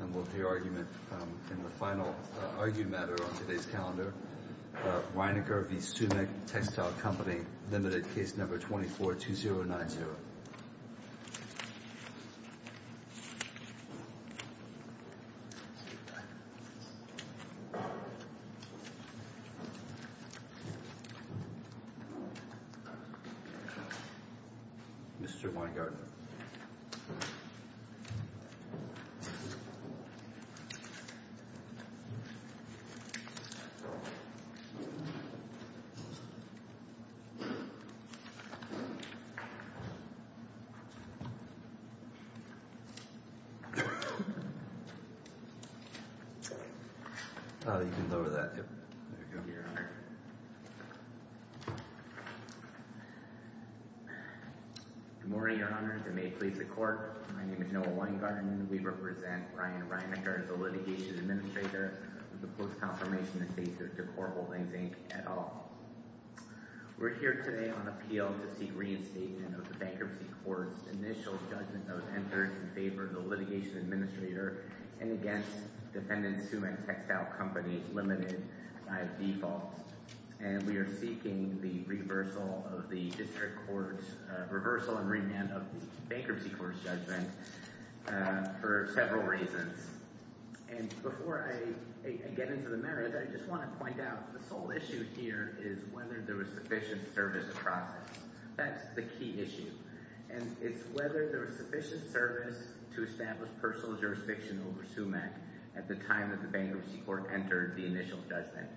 And we'll hear argument in the final argued matter on today's calendar. Ryniker v. Sumick, Textile Company, limited case number 24-2090. Mr. Weingarten. Good morning, Your Honor, and may it please the Court, my name is Noah Weingarten and we represent Bryan Ryniker as the Litigation Administrator of the Post-Confirmation Invasive Decor Holdings, Inc. et al. We're here today on appeal to seek reinstatement of the Bankruptcy Court's initial judgment that was entered in favor of the Litigation Administrator and against Defendant Sumick, Textile Company, limited by default. And we are seeking the reversal of the District Court's—reversal and remand of the Bankruptcy Court's judgment for several reasons. And before I get into the merits, I just want to point out the sole issue here is whether there was sufficient service across it. That's the key issue. And it's whether there was sufficient service to establish personal jurisdiction over Sumick at the time that the Bankruptcy Court entered the initial judgment.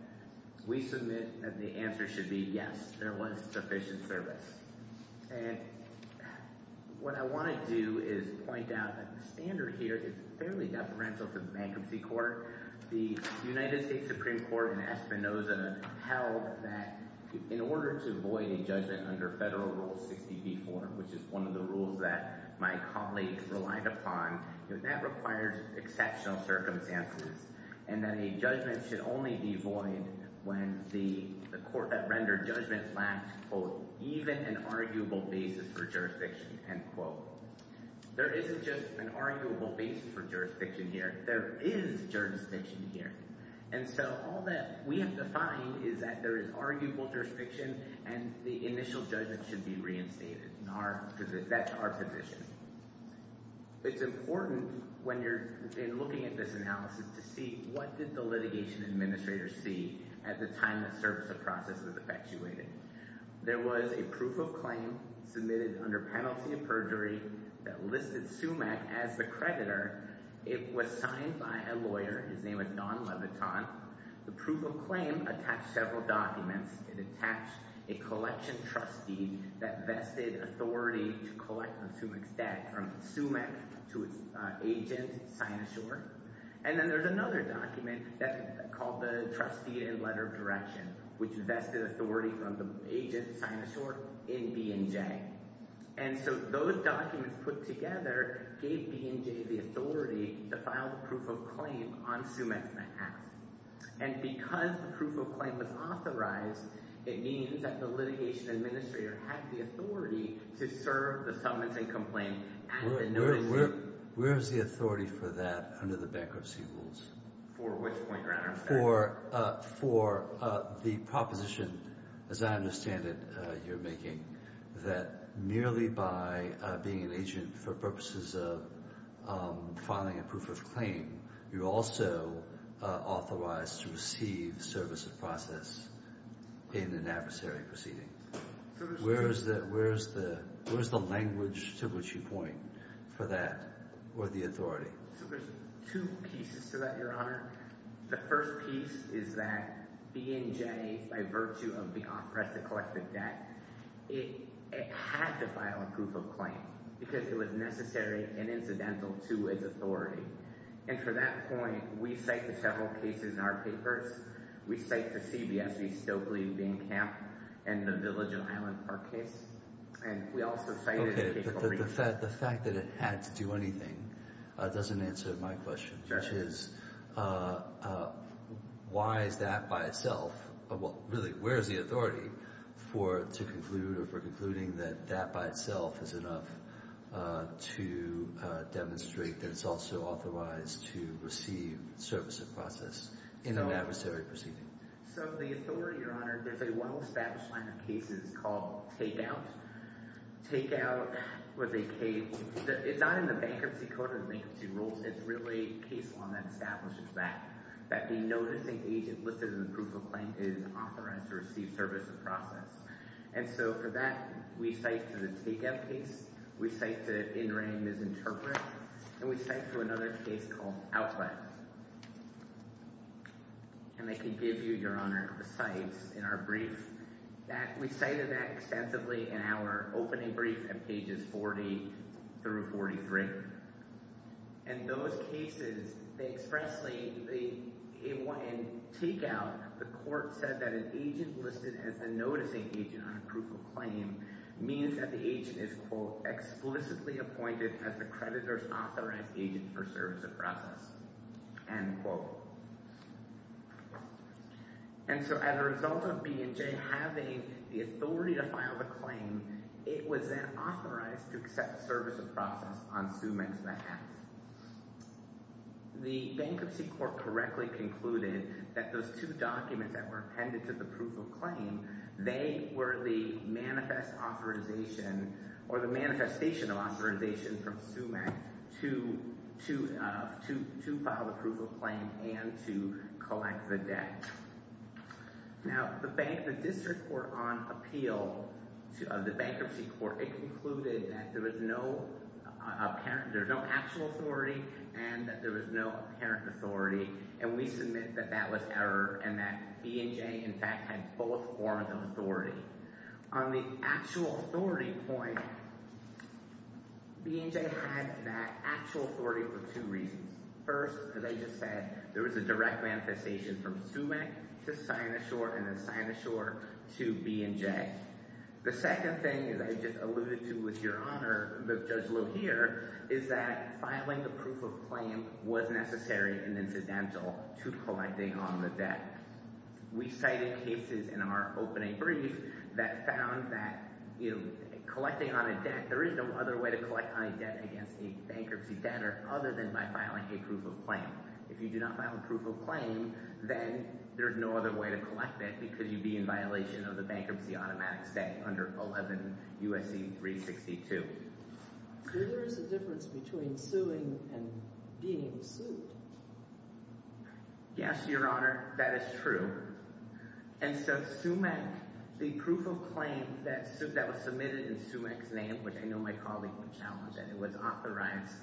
We submit that the answer should be yes, there was sufficient service. And what I want to do is point out that the standard here is fairly deferential to the Bankruptcy Court. The United States Supreme Court in Espinoza held that in order to void a judgment under Federal Rule 60b-4, which is one of the rules that my colleague relied upon, that requires exceptional circumstances, and that a judgment should only be void when the court that rendered a judgment lacked, quote, even an arguable basis for jurisdiction, end quote. There isn't just an arguable basis for jurisdiction here. There is jurisdiction here. And so all that we have defined is that there is arguable jurisdiction and the initial judgment should be reinstated. That's our position. It's important when you're looking at this analysis to see what did the litigation administrators see at the time the service of process was effectuated. There was a proof of claim submitted under penalty of perjury that listed Sumick as the creditor. It was signed by a lawyer. His name was Don Leviton. The proof of claim attached several documents. It attached a collection trustee that vested authority to collect on Sumick's debt from Sumick to its agent, Sina Shore. And then there's another document called the trustee and letter of direction, which vested authority from the agent, Sina Shore, in B&J. And so those documents put together gave B&J the authority to file the proof of claim on Sumick's behalf. And because the proof of claim was authorized, it means that the litigation administrator had the authority to serve the summons and complaint at the notice. Where is the authority for that under the bankruptcy rules? For which point, Your Honor? For the proposition, as I understand it, you're making, that merely by being an agent for purposes of filing a proof of claim, you're also authorized to receive service of process in an adversary proceeding. Where is the language to which you point for that or the authority? So there's two pieces to that, Your Honor. The first piece is that B&J, by virtue of being oppressed to collect the debt, it had to file a proof of claim because it was necessary and incidental to its authority. And for that point, we cite the several cases in our papers. We cite the CBSE, Stokely, Van Camp, and the Village and Island Park case. And we also cite... Okay. The fact that it had to do anything doesn't answer my question, which is, why is that by itself? Well, really, where is the authority for it to conclude or for concluding that that by itself is enough to demonstrate that it's also authorized to receive service of process in an adversary proceeding? So the authority, Your Honor, there's a well-established line of cases called take-out. Take-out was a case... It's not in the Bankruptcy Code or the Bankruptcy Rules. It's really a case law that establishes that, that the noticing agent listed in the proof of claim is authorized to receive service of process. And so for that, we cite the take-out case. We cite the in-ring misinterpret. And we cite another case called Outlet. And I can give you, Your Honor, the cites in our brief. We cited that extensively in our opening brief at pages 40 through 43. And those cases, they expressly... In take-out, the court said that an agent listed as a noticing agent on a proof of claim means that the agent is, quote, explicitly appointed as the creditor's authorized agent for service of process. End quote. And so as a result of B&J having the authority to file the claim, it was then authorized to accept service of process on Sumex's behalf. The Bankruptcy Court correctly concluded that those two documents that were appended to the proof of claim, they were the manifest authorization or the manifestation of authorization from Sumex to file the proof of claim and to collect the debt. Now, the District Court on Appeal, the Bankruptcy Court, it concluded that there was no actual authority and that there was no apparent authority. And we submit that that was error and that B&J, in fact, had both forms of authority. On the actual authority point, B&J had that actual authority for two reasons. First, as I just said, there was a direct manifestation from Sumex to sign a short and then sign a short to B&J. The second thing, as I just alluded to with Your Honor, Judge Lohear, is that filing the proof of claim is fundamental to collecting on the debt. We cited cases in our opening brief that found that collecting on a debt, there is no other way to collect on a debt against a bankruptcy debtor other than by filing a proof of claim. If you do not file a proof of claim, then there's no other way to collect that because you'd be in violation of the Bankruptcy Automatic Statute under 11 U.S.C. 362. So there is a difference between suing and being sued. Yes, Your Honor, that is true. And so Sumex, the proof of claim that was submitted in Sumex's name, which I know my colleague would challenge, and it was authorized,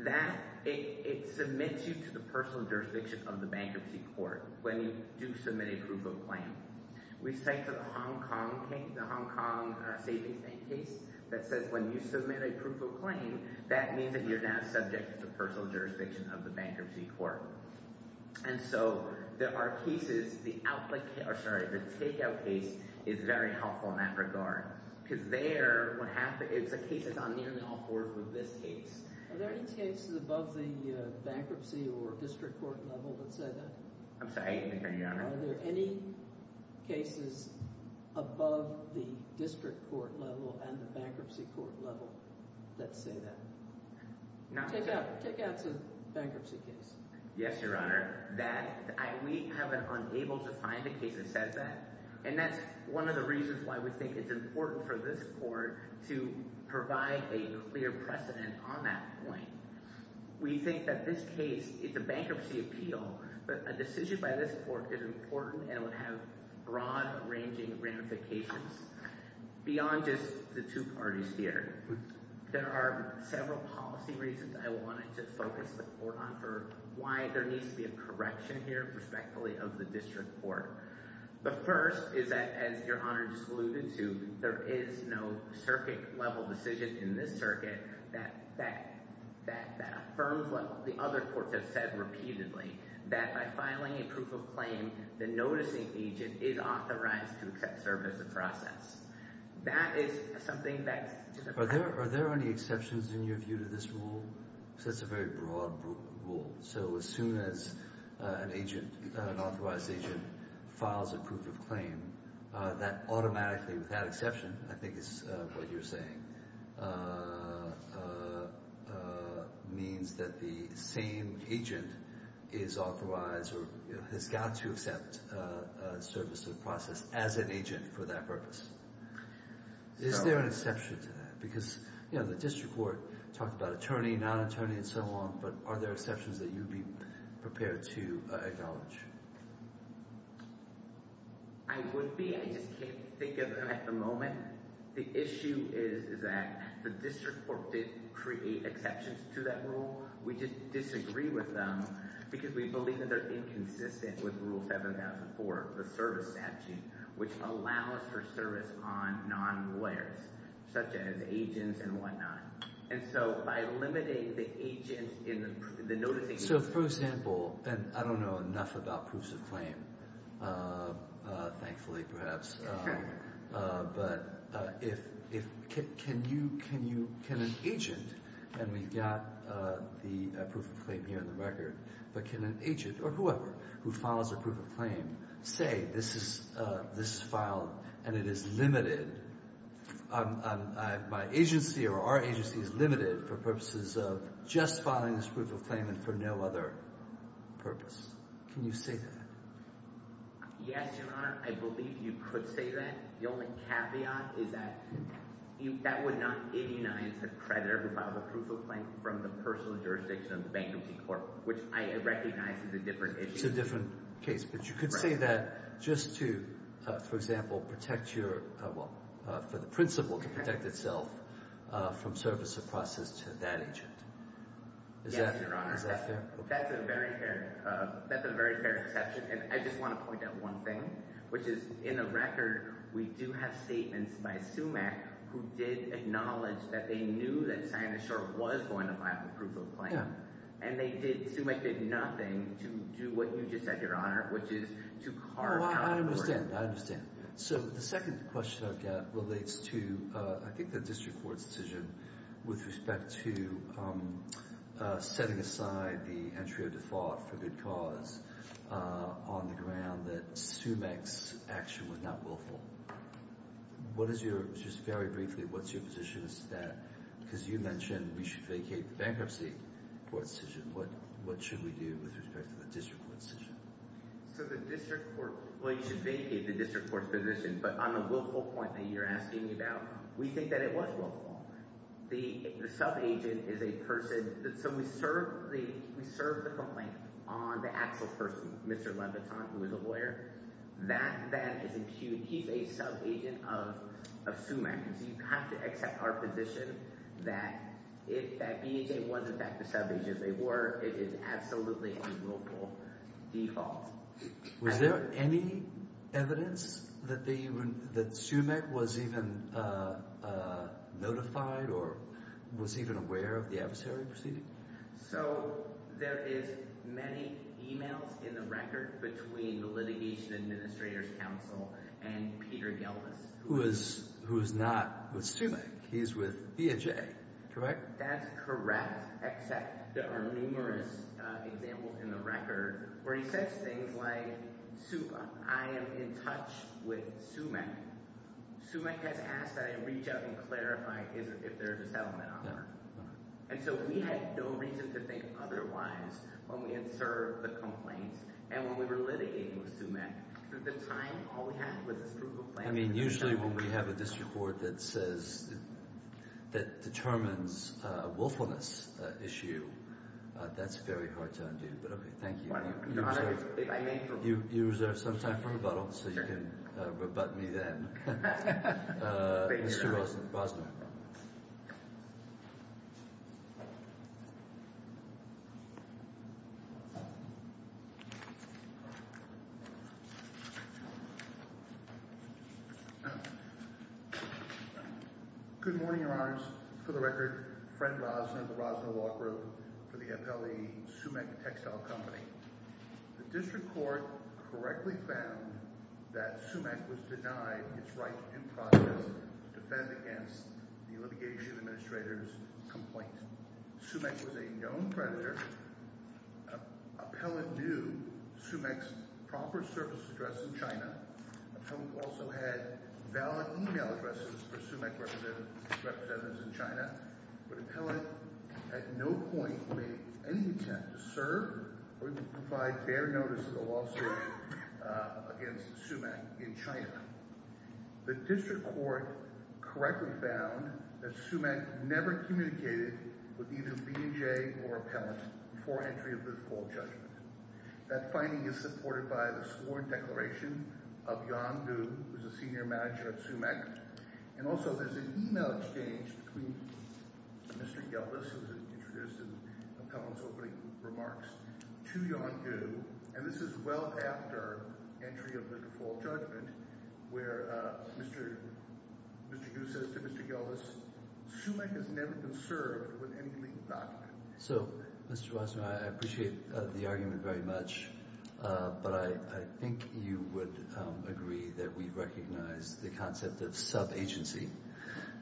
that it submits you to the personal jurisdiction of the bankruptcy court when you do submit a proof of claim. We cite the Hong Kong Savings Bank case that says when you submit a proof of claim, that means that you're now subject to the personal jurisdiction of the bankruptcy court. And so there are cases, the takeout case is very helpful in that regard. Because there, it's a case that's on nearly all fours with this case. Are there any cases above the bankruptcy or district court level that say that? I'm sorry, I didn't hear you, Your Honor. Are there any cases above the district court level and the bankruptcy court level that say that? Takeout's a bankruptcy case. Yes, Your Honor. That, we have been unable to find a case that says that. And that's one of the reasons why we think it's important for this court to provide a clear precedent on that point. We think that this case, it's a bankruptcy appeal, but a decision by this court is important and would have broad-ranging ramifications beyond just the two parties here. There are several policy reasons I wanted to focus the court on for why there needs to be a correction here, respectfully, of the district court. The first is that, as Your Honor just alluded to, there is no circuit-level decision in that that affirms what the other courts have said repeatedly, that by filing a proof of claim, the noticing agent is authorized to serve as a process. That is something that— Are there any exceptions in your view to this rule? Because that's a very broad rule. So as soon as an agent, an authorized agent, files a proof of claim, that automatically, without exception, I think is what you're saying, means that the same agent is authorized or has got to accept service of process as an agent for that purpose. Is there an exception to that? Because the district court talked about attorney, non-attorney, and so on, but are there exceptions that you'd be prepared to acknowledge? I would be. I just can't think of them at the moment. The issue is that the district court did create exceptions to that rule. We just disagree with them because we believe that they're inconsistent with Rule 7004, the service statute, which allows for service on non-lawyers, such as agents and whatnot. And so by limiting the agent in the— So, for example, and I don't know enough about proofs of claim, thankfully, perhaps, but can an agent—and we've got the proof of claim here in the record—but can an agent or whoever who files a proof of claim say, this is filed and it is limited, my agency or our agency is limited for purposes of just filing this proof of claim and for no other purpose? Can you say that? Yes, Your Honor. I believe you could say that. The only caveat is that that would not ignite a creditor who filed a proof of claim from the personal jurisdiction of the bankruptcy court, which I recognize is a different issue. It's a different case, but you could say that just to, for example, protect your—well, for the principal to protect itself from service of process to that agent. Yes, Your Honor. Is that fair? That's a very fair—that's a very fair exception. And I just want to point out one thing, which is, in the record, we do have statements by SUMAC who did acknowledge that they knew that Sina Shore was going to file a proof of claim. And they did—SUMAC did nothing to do what you just said, Your Honor, which is to carve out a burden. Oh, I understand. I understand. So the second question I've got relates to, I think, the district court's decision with respect to setting aside the entry of default for good cause on the ground that SUMAC's action was not willful. What is your—just very briefly, what's your position as to that? Because you mentioned we should vacate the bankruptcy court's decision. What should we do with respect to the district court's decision? So the district court—well, you should vacate the district court's decision. But on the willful point that you're asking me about, we think that it was willful. The subagent is a person—so we served the complaint on the actual person, Mr. Leviton, who is a lawyer. That is impugned. He's a subagent of SUMAC. And so you have to accept our position that if that BHA wasn't back the subagent they were—it is absolutely a willful default. Was there any evidence that SUMAC was even notified or was even aware of the adversary proceeding? So there is many emails in the record between the litigation administrator's counsel and Peter Gelbis. Who is not with SUMAC. He's with BHA, correct? That's correct. Except there are numerous examples in the record where he says things like, I am in touch with SUMAC. SUMAC has asked that I reach out and clarify if there is a settlement offer. And so we had no reason to think otherwise when we had served the complaints and when we were litigating with SUMAC. At the time, all we had was this proof of plan. I mean, usually when we have a district court that says—that determines a willfulness issue, that's very hard to undo. But, okay, thank you. You reserve some time for rebuttal so you can rebut me then. Mr. Rosner. Good morning, Your Honors. For the record, Fred Rosner of the Rosner Law Group for the appellee SUMAC Textile Company. The district court correctly found that SUMAC was denied its right in process to defend against the litigation administrator's complaint. SUMAC was a known predator. Appellant knew SUMAC's proper service address in China. Appellant also had valid email addresses for SUMAC representatives in China. But appellant at no point made any attempt to serve or even provide bare notice of a lawsuit against SUMAC in China. The district court correctly found that SUMAC never communicated with either B&J or appellant before entry of the full judgment. That finding is supported by the sworn declaration of Yong Gu, who is a senior manager at SUMAC. And also there's an email exchange between Mr. Gildas, who was introduced in appellant's opening remarks, to Yong Gu. And this is well after entry of the full judgment, where Mr. Gu says to Mr. Gildas, SUMAC has never been served with any legal document. So, Mr. Wasserman, I appreciate the argument very much. But I think you would agree that we recognize the concept of sub-agency.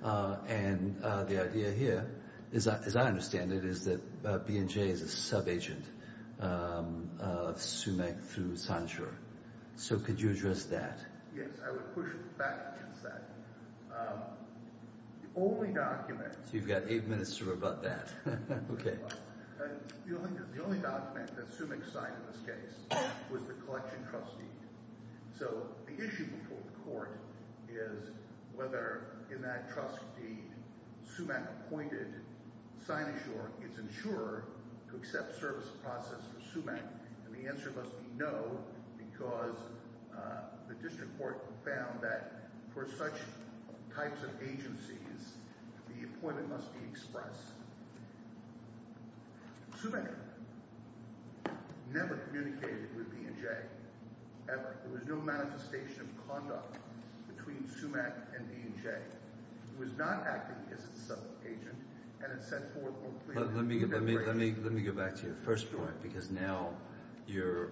And the idea here, as I understand it, is that B&J is a sub-agent of SUMAC through SANSUR. So could you address that? Yes, I would push back against that. The only document... So you've got eight minutes to rebut that. Okay. The only document that SUMAC signed in this case was the collection trust deed. So the issue before the court is whether in that trust deed SUMAC appointed SANSUR, its insurer, to accept service process for SUMAC. And the answer must be no, because the district court found that for such types of agencies, the appointment must be expressed. SUMAC never communicated with B&J, ever. There was no manifestation of conduct between SUMAC and B&J. It was not acting as a sub-agent, and it set forth... Let me go back to your first point, because now you're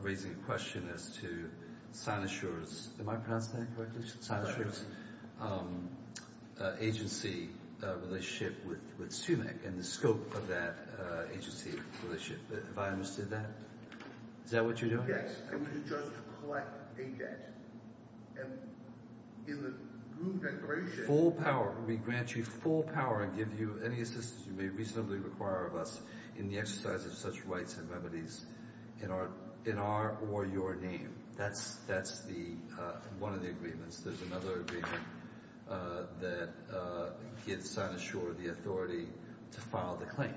raising a question as to SANSUR's... Am I pronouncing that correctly? SANSUR's agency relationship with SUMAC and the scope of that agency relationship. Have I understood that? Is that what you're doing? Yes. And we just collect a debt. And in the group declaration... Full power. We grant you full power and give you any assistance you may reasonably require of us in the exercise of such rights and remedies in our or your name. That's one of the agreements. There's another agreement that gives SANSUR the authority to file the claim.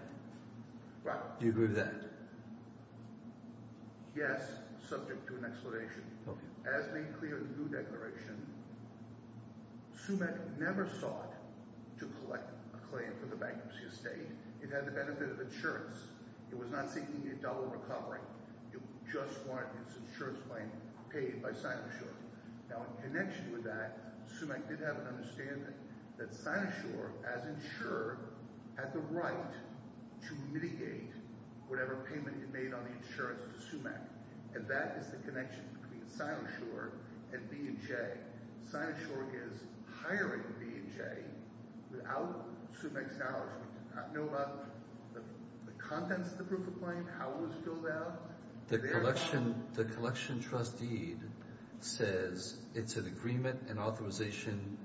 Do you agree with that? Yes, subject to an explanation. As made clear in the group declaration, SUMAC never sought to collect a claim for the bankruptcy estate. It had the benefit of insurance. It was not seeking a double recovery. It just wanted its insurance claim paid by SANSUR. Now, in connection with that, SUMAC did have an understanding that SANSUR, as insured, had the right to mitigate whatever payment it made on the insurance to SUMAC. And that is the connection between SANSUR and B&J. SANSUR is hiring B&J without SUMAC's knowledge. We do not know about the contents of the proof of claim, how it was filled out. The collection trust deed says it's an agreement and authorization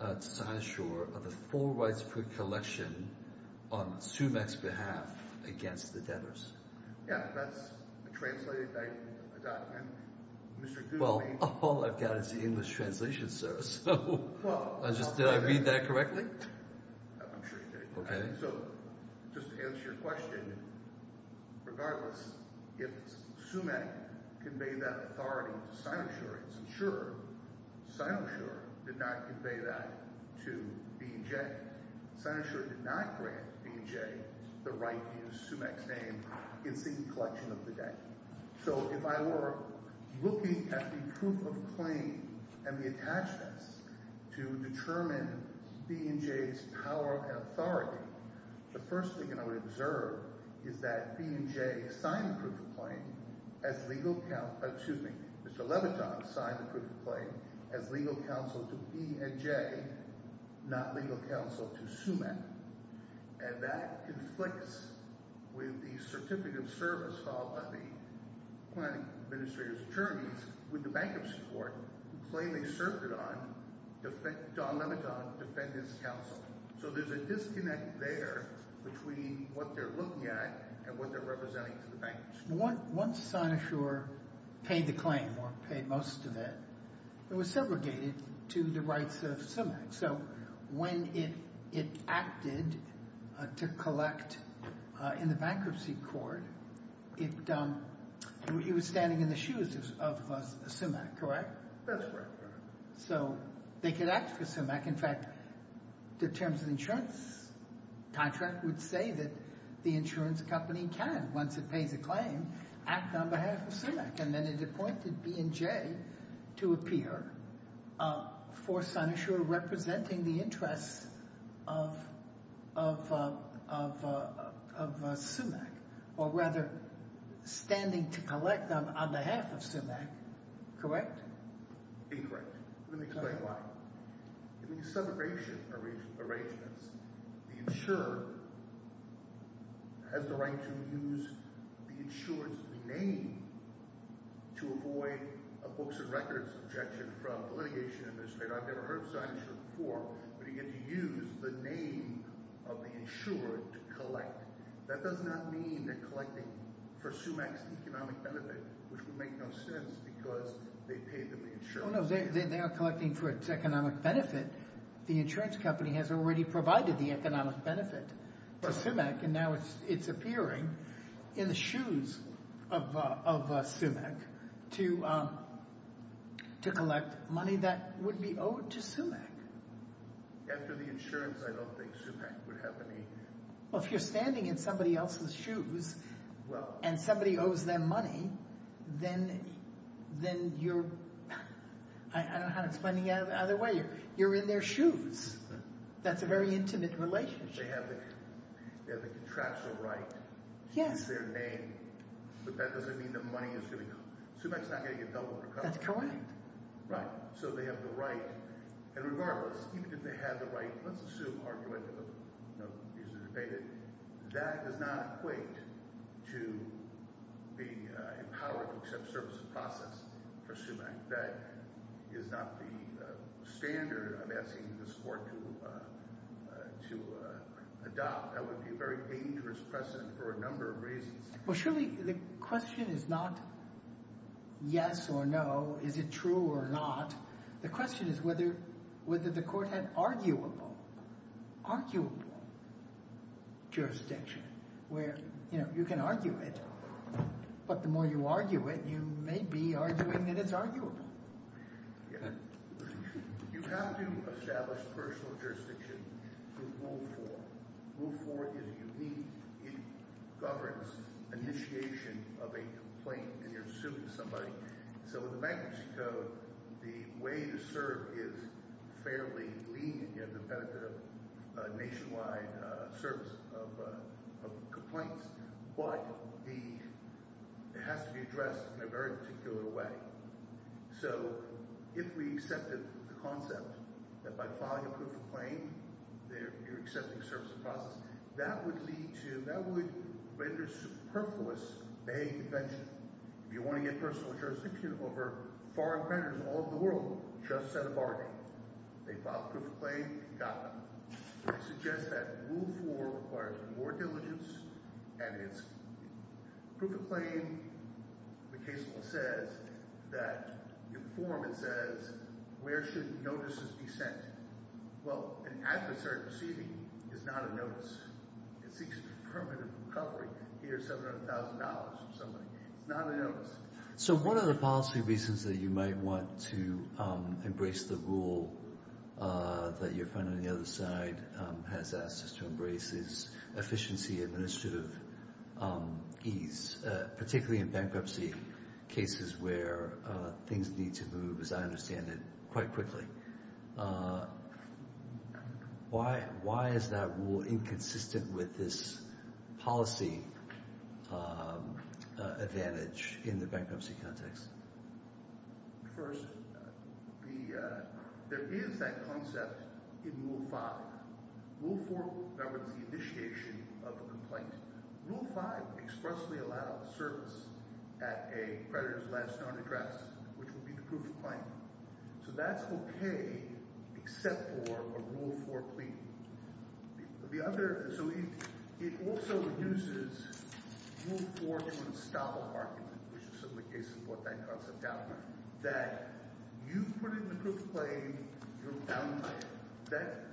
to SANSUR of a full rights-free collection on SUMAC's behalf against the debtors. Yeah, that's a translated document. Well, all I've got is the English translation, sir. Did I read that correctly? I'm sure you did. Okay. So, just to answer your question, regardless if SUMAC conveyed that authority to SANSUR, it's insured. SANSUR did not convey that to B&J. SANSUR did not grant B&J the right to use SUMAC's name in seeking collection of the debt. So, if I were looking at the proof of claim and the attachments to determine B&J's power and authority, the first thing I would observe is that B&J signed the proof of claim as legal counsel – legal counsel to SUMAC. And that conflicts with the certificate of service filed by the planning administrator's attorneys with the bankruptcy court, who claim they served it on, dominant on defendants' counsel. So, there's a disconnect there between what they're looking at and what they're representing to the bankers. Once SANSUR paid the claim, or paid most of it, it was segregated to the rights of SUMAC. So, when it acted to collect in the bankruptcy court, it was standing in the shoes of SUMAC, correct? That's correct. So, they could act for SUMAC. In fact, the terms of insurance contract would say that the insurance company can, once it pays a claim, act on behalf of SUMAC. And then it appointed B&J to appear for SANSUR representing the interests of SUMAC, or rather, standing to collect on behalf of SUMAC, correct? Incorrect. Let me explain why. In the segregation arrangements, the insurer has the right to use the insurer's name to avoid a books and records objection from the litigation administrator. I've never heard of SANSUR before, but you get to use the name of the insurer to collect. That does not mean they're collecting for SUMAC's economic benefit, which would make no sense because they paid them the insurance. Well, no, they are collecting for its economic benefit. The insurance company has already provided the economic benefit to SUMAC, and now it's appearing in the shoes of SUMAC to collect money that would be owed to SUMAC. After the insurance, I don't think SUMAC would have any. Well, if you're standing in somebody else's shoes and somebody owes them money, then you're—I don't know how to explain it the other way. You're in their shoes. That's a very intimate relationship. They have the contractual right to use their name, but that doesn't mean the money is going to go. SUMAC's not going to get doubled or cut. That's correct. Right. So they have the right, and regardless, even if they had the right, let's assume, you know, these are debated, that does not equate to being empowered to accept service of process for SUMAC. That is not the standard I'm asking this Court to adopt. That would be a very dangerous precedent for a number of reasons. Well, surely the question is not yes or no, is it true or not. The question is whether the Court had arguable jurisdiction where, you know, you can argue it, but the more you argue it, you may be arguing that it's arguable. You have to establish personal jurisdiction through Rule 4. Rule 4 is unique. It governs initiation of a complaint, and you're suing somebody. So with the bankruptcy code, the way to serve is fairly lenient. You have the benefit of nationwide service of complaints. But it has to be addressed in a very particular way. So if we accepted the concept that by filing a proof of claim, you're accepting service of process, that would lead to – that would render superfluous behavior prevention. If you want to get personal jurisdiction over foreign creditors all over the world, just set a bargain. They filed a proof of claim, you got them. I suggest that Rule 4 requires more diligence, and it's – proof of claim, the case law says that – in the form it says where should notices be sent. Well, an adversary receiving is not a notice. It seeks permanent recovery. Here's $700,000 from somebody. It's not a notice. So one of the policy reasons that you might want to embrace the rule that your friend on the other side has asked us to embrace is efficiency, administrative ease, particularly in bankruptcy cases where things need to move, as I understand it, quite quickly. Why is that rule inconsistent with this policy advantage in the bankruptcy context? First, there is that concept in Rule 5. Rule 4 governs the initiation of a complaint. Rule 5 expressly allows service at a creditor's last known address, which would be the proof of claim. So that's okay except for a Rule 4 plea. The other – so it also reduces Rule 4 to an estoppel argument, which is simply a case of what that concept outlines, that you put in the proof of claim, you're bound to it. That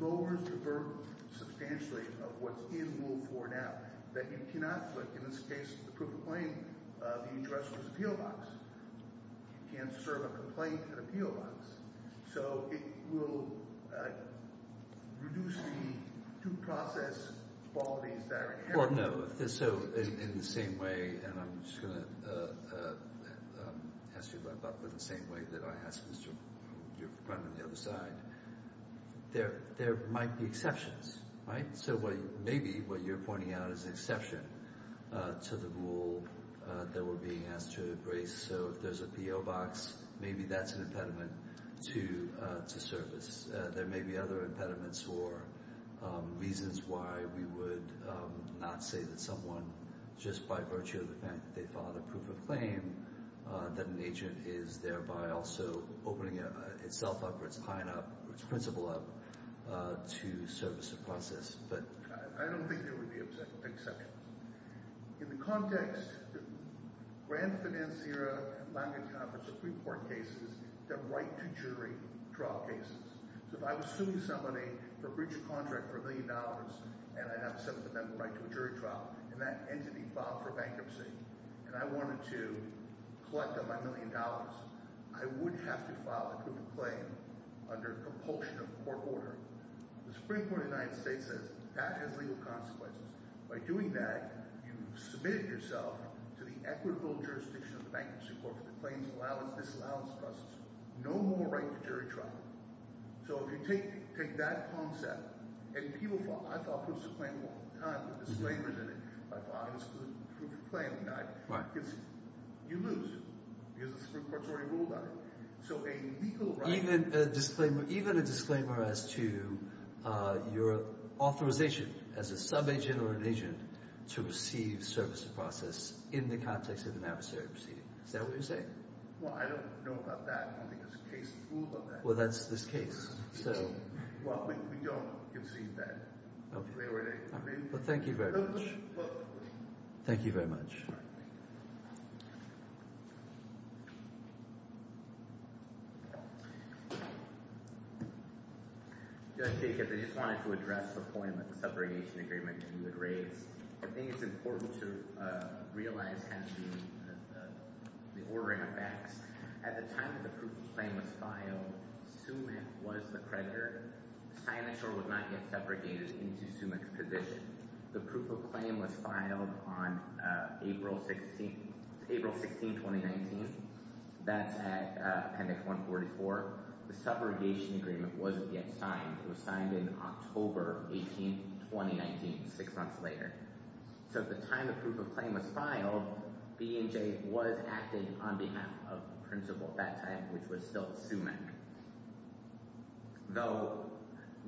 lowers the burden substantially of what's in Rule 4 now, that you cannot put, in this case, the proof of claim, the address or the appeal box. You can't serve a complaint at appeal box. So it will reduce the due process qualities that are inherent. Well, no. So in the same way – and I'm just going to ask you about that in the same way that I asked Mr. – your friend on the other side. There might be exceptions, right? So maybe what you're pointing out is an exception to the rule that we're being asked to embrace. So if there's an appeal box, maybe that's an impediment to service. There may be other impediments or reasons why we would not say that someone, just by virtue of the fact that they filed a proof of claim, that an agent is thereby also opening itself up or its high end up or its principal up to service a process. I don't think there would be exceptions. In the context, grand financier, language conference, Supreme Court cases, they're right-to-jury trial cases. So if I was suing somebody for breach of contract for a million dollars and I have a 7th Amendment right to a jury trial and that entity filed for bankruptcy and I wanted to collect on my million dollars, I would have to file a proof of claim under compulsion of court order. The Supreme Court of the United States says that has legal consequences. By doing that, you've submitted yourself to the equitable jurisdiction of the Bankruptcy Court for the claims allowance disallowance process. No more right to jury trial. So if you take that concept and people file – I filed proof of claim all the time with disclaimers in it. I filed it as proof of claim. You lose because the Supreme Court's already ruled on it. So a legal right – Even a disclaimer as to your authorization as a subagent or an agent to receive service of process in the context of an adversary proceeding. Is that what you're saying? Well, I don't know about that. I don't think there's a case rule about that. Well, that's this case. Well, we don't concede that. Thank you very much. Thank you very much. Judge Jacobs, I just wanted to address the point about the subrogation agreement that you had raised. I think it's important to realize the ordering of facts. At the time that the proof of claim was filed, Sumit was the creditor. The signature was not yet subrogated into Sumit's position. The proof of claim was filed on April 16, 2019. That's at Appendix 144. The subrogation agreement wasn't yet signed. It was signed in October 18, 2019, six months later. So at the time the proof of claim was filed, B&J was acting on behalf of the principal at that time, which was still Sumit. Though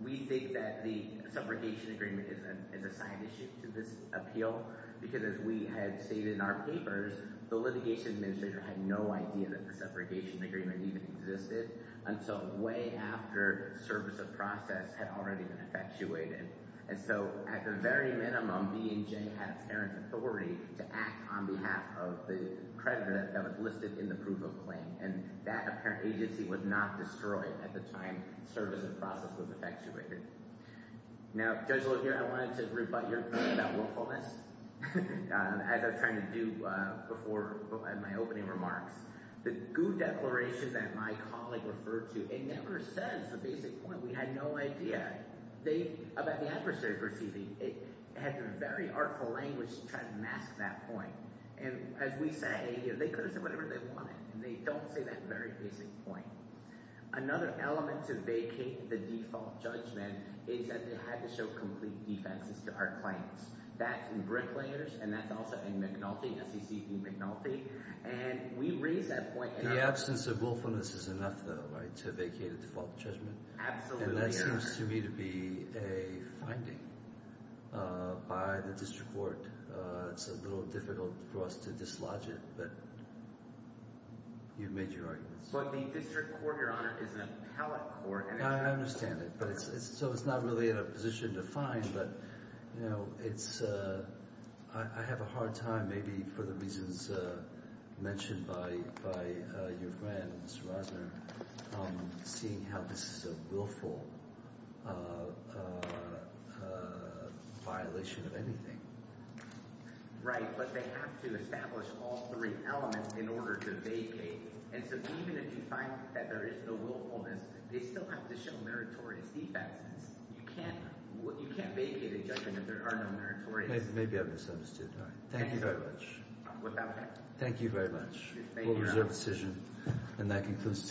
we think that the subrogation agreement is a side issue to this appeal because, as we had stated in our papers, the litigation administrator had no idea that the subrogation agreement even existed until way after service of process had already been effectuated. And so, at the very minimum, B&J had parent authority to act on behalf of the creditor that was listed in the proof of claim. And that apparent agency was not destroyed at the time service of process was effectuated. Now, Judge Laguerre, I wanted to rebut your point about willfulness. As I was trying to do before my opening remarks, the GU declaration that my colleague referred to, it never says the basic point. We had no idea about the adversary proceeding. It had a very artful language to try to mask that point. And as we say, they could have said whatever they wanted, and they don't say that very basic point. Another element to vacate the default judgment is that they had to show complete defenses to our claims. That's in Bricklayers, and that's also in McNulty, SEC v. McNulty. And we raised that point. The absence of willfulness is enough, though, right, to vacate a default judgment? Absolutely. And that seems to me to be a finding by the district court. It's a little difficult for us to dislodge it, but you've made your argument. But the district court, Your Honor, is an appellate court. I understand it. So it's not really in a position to find, but, you know, it's – I have a hard time maybe for the reasons mentioned by your friend, Mr. Rosner, seeing how this is a willful violation of anything. Right, but they have to establish all three elements in order to vacate. And so even if you find that there is no willfulness, they still have to show meritorious defenses. You can't vacate a judgment if there are no meritorious defenses. Maybe I misunderstood. Thank you very much. Without a doubt. Thank you very much. We'll reserve the decision, and that concludes today's hearing.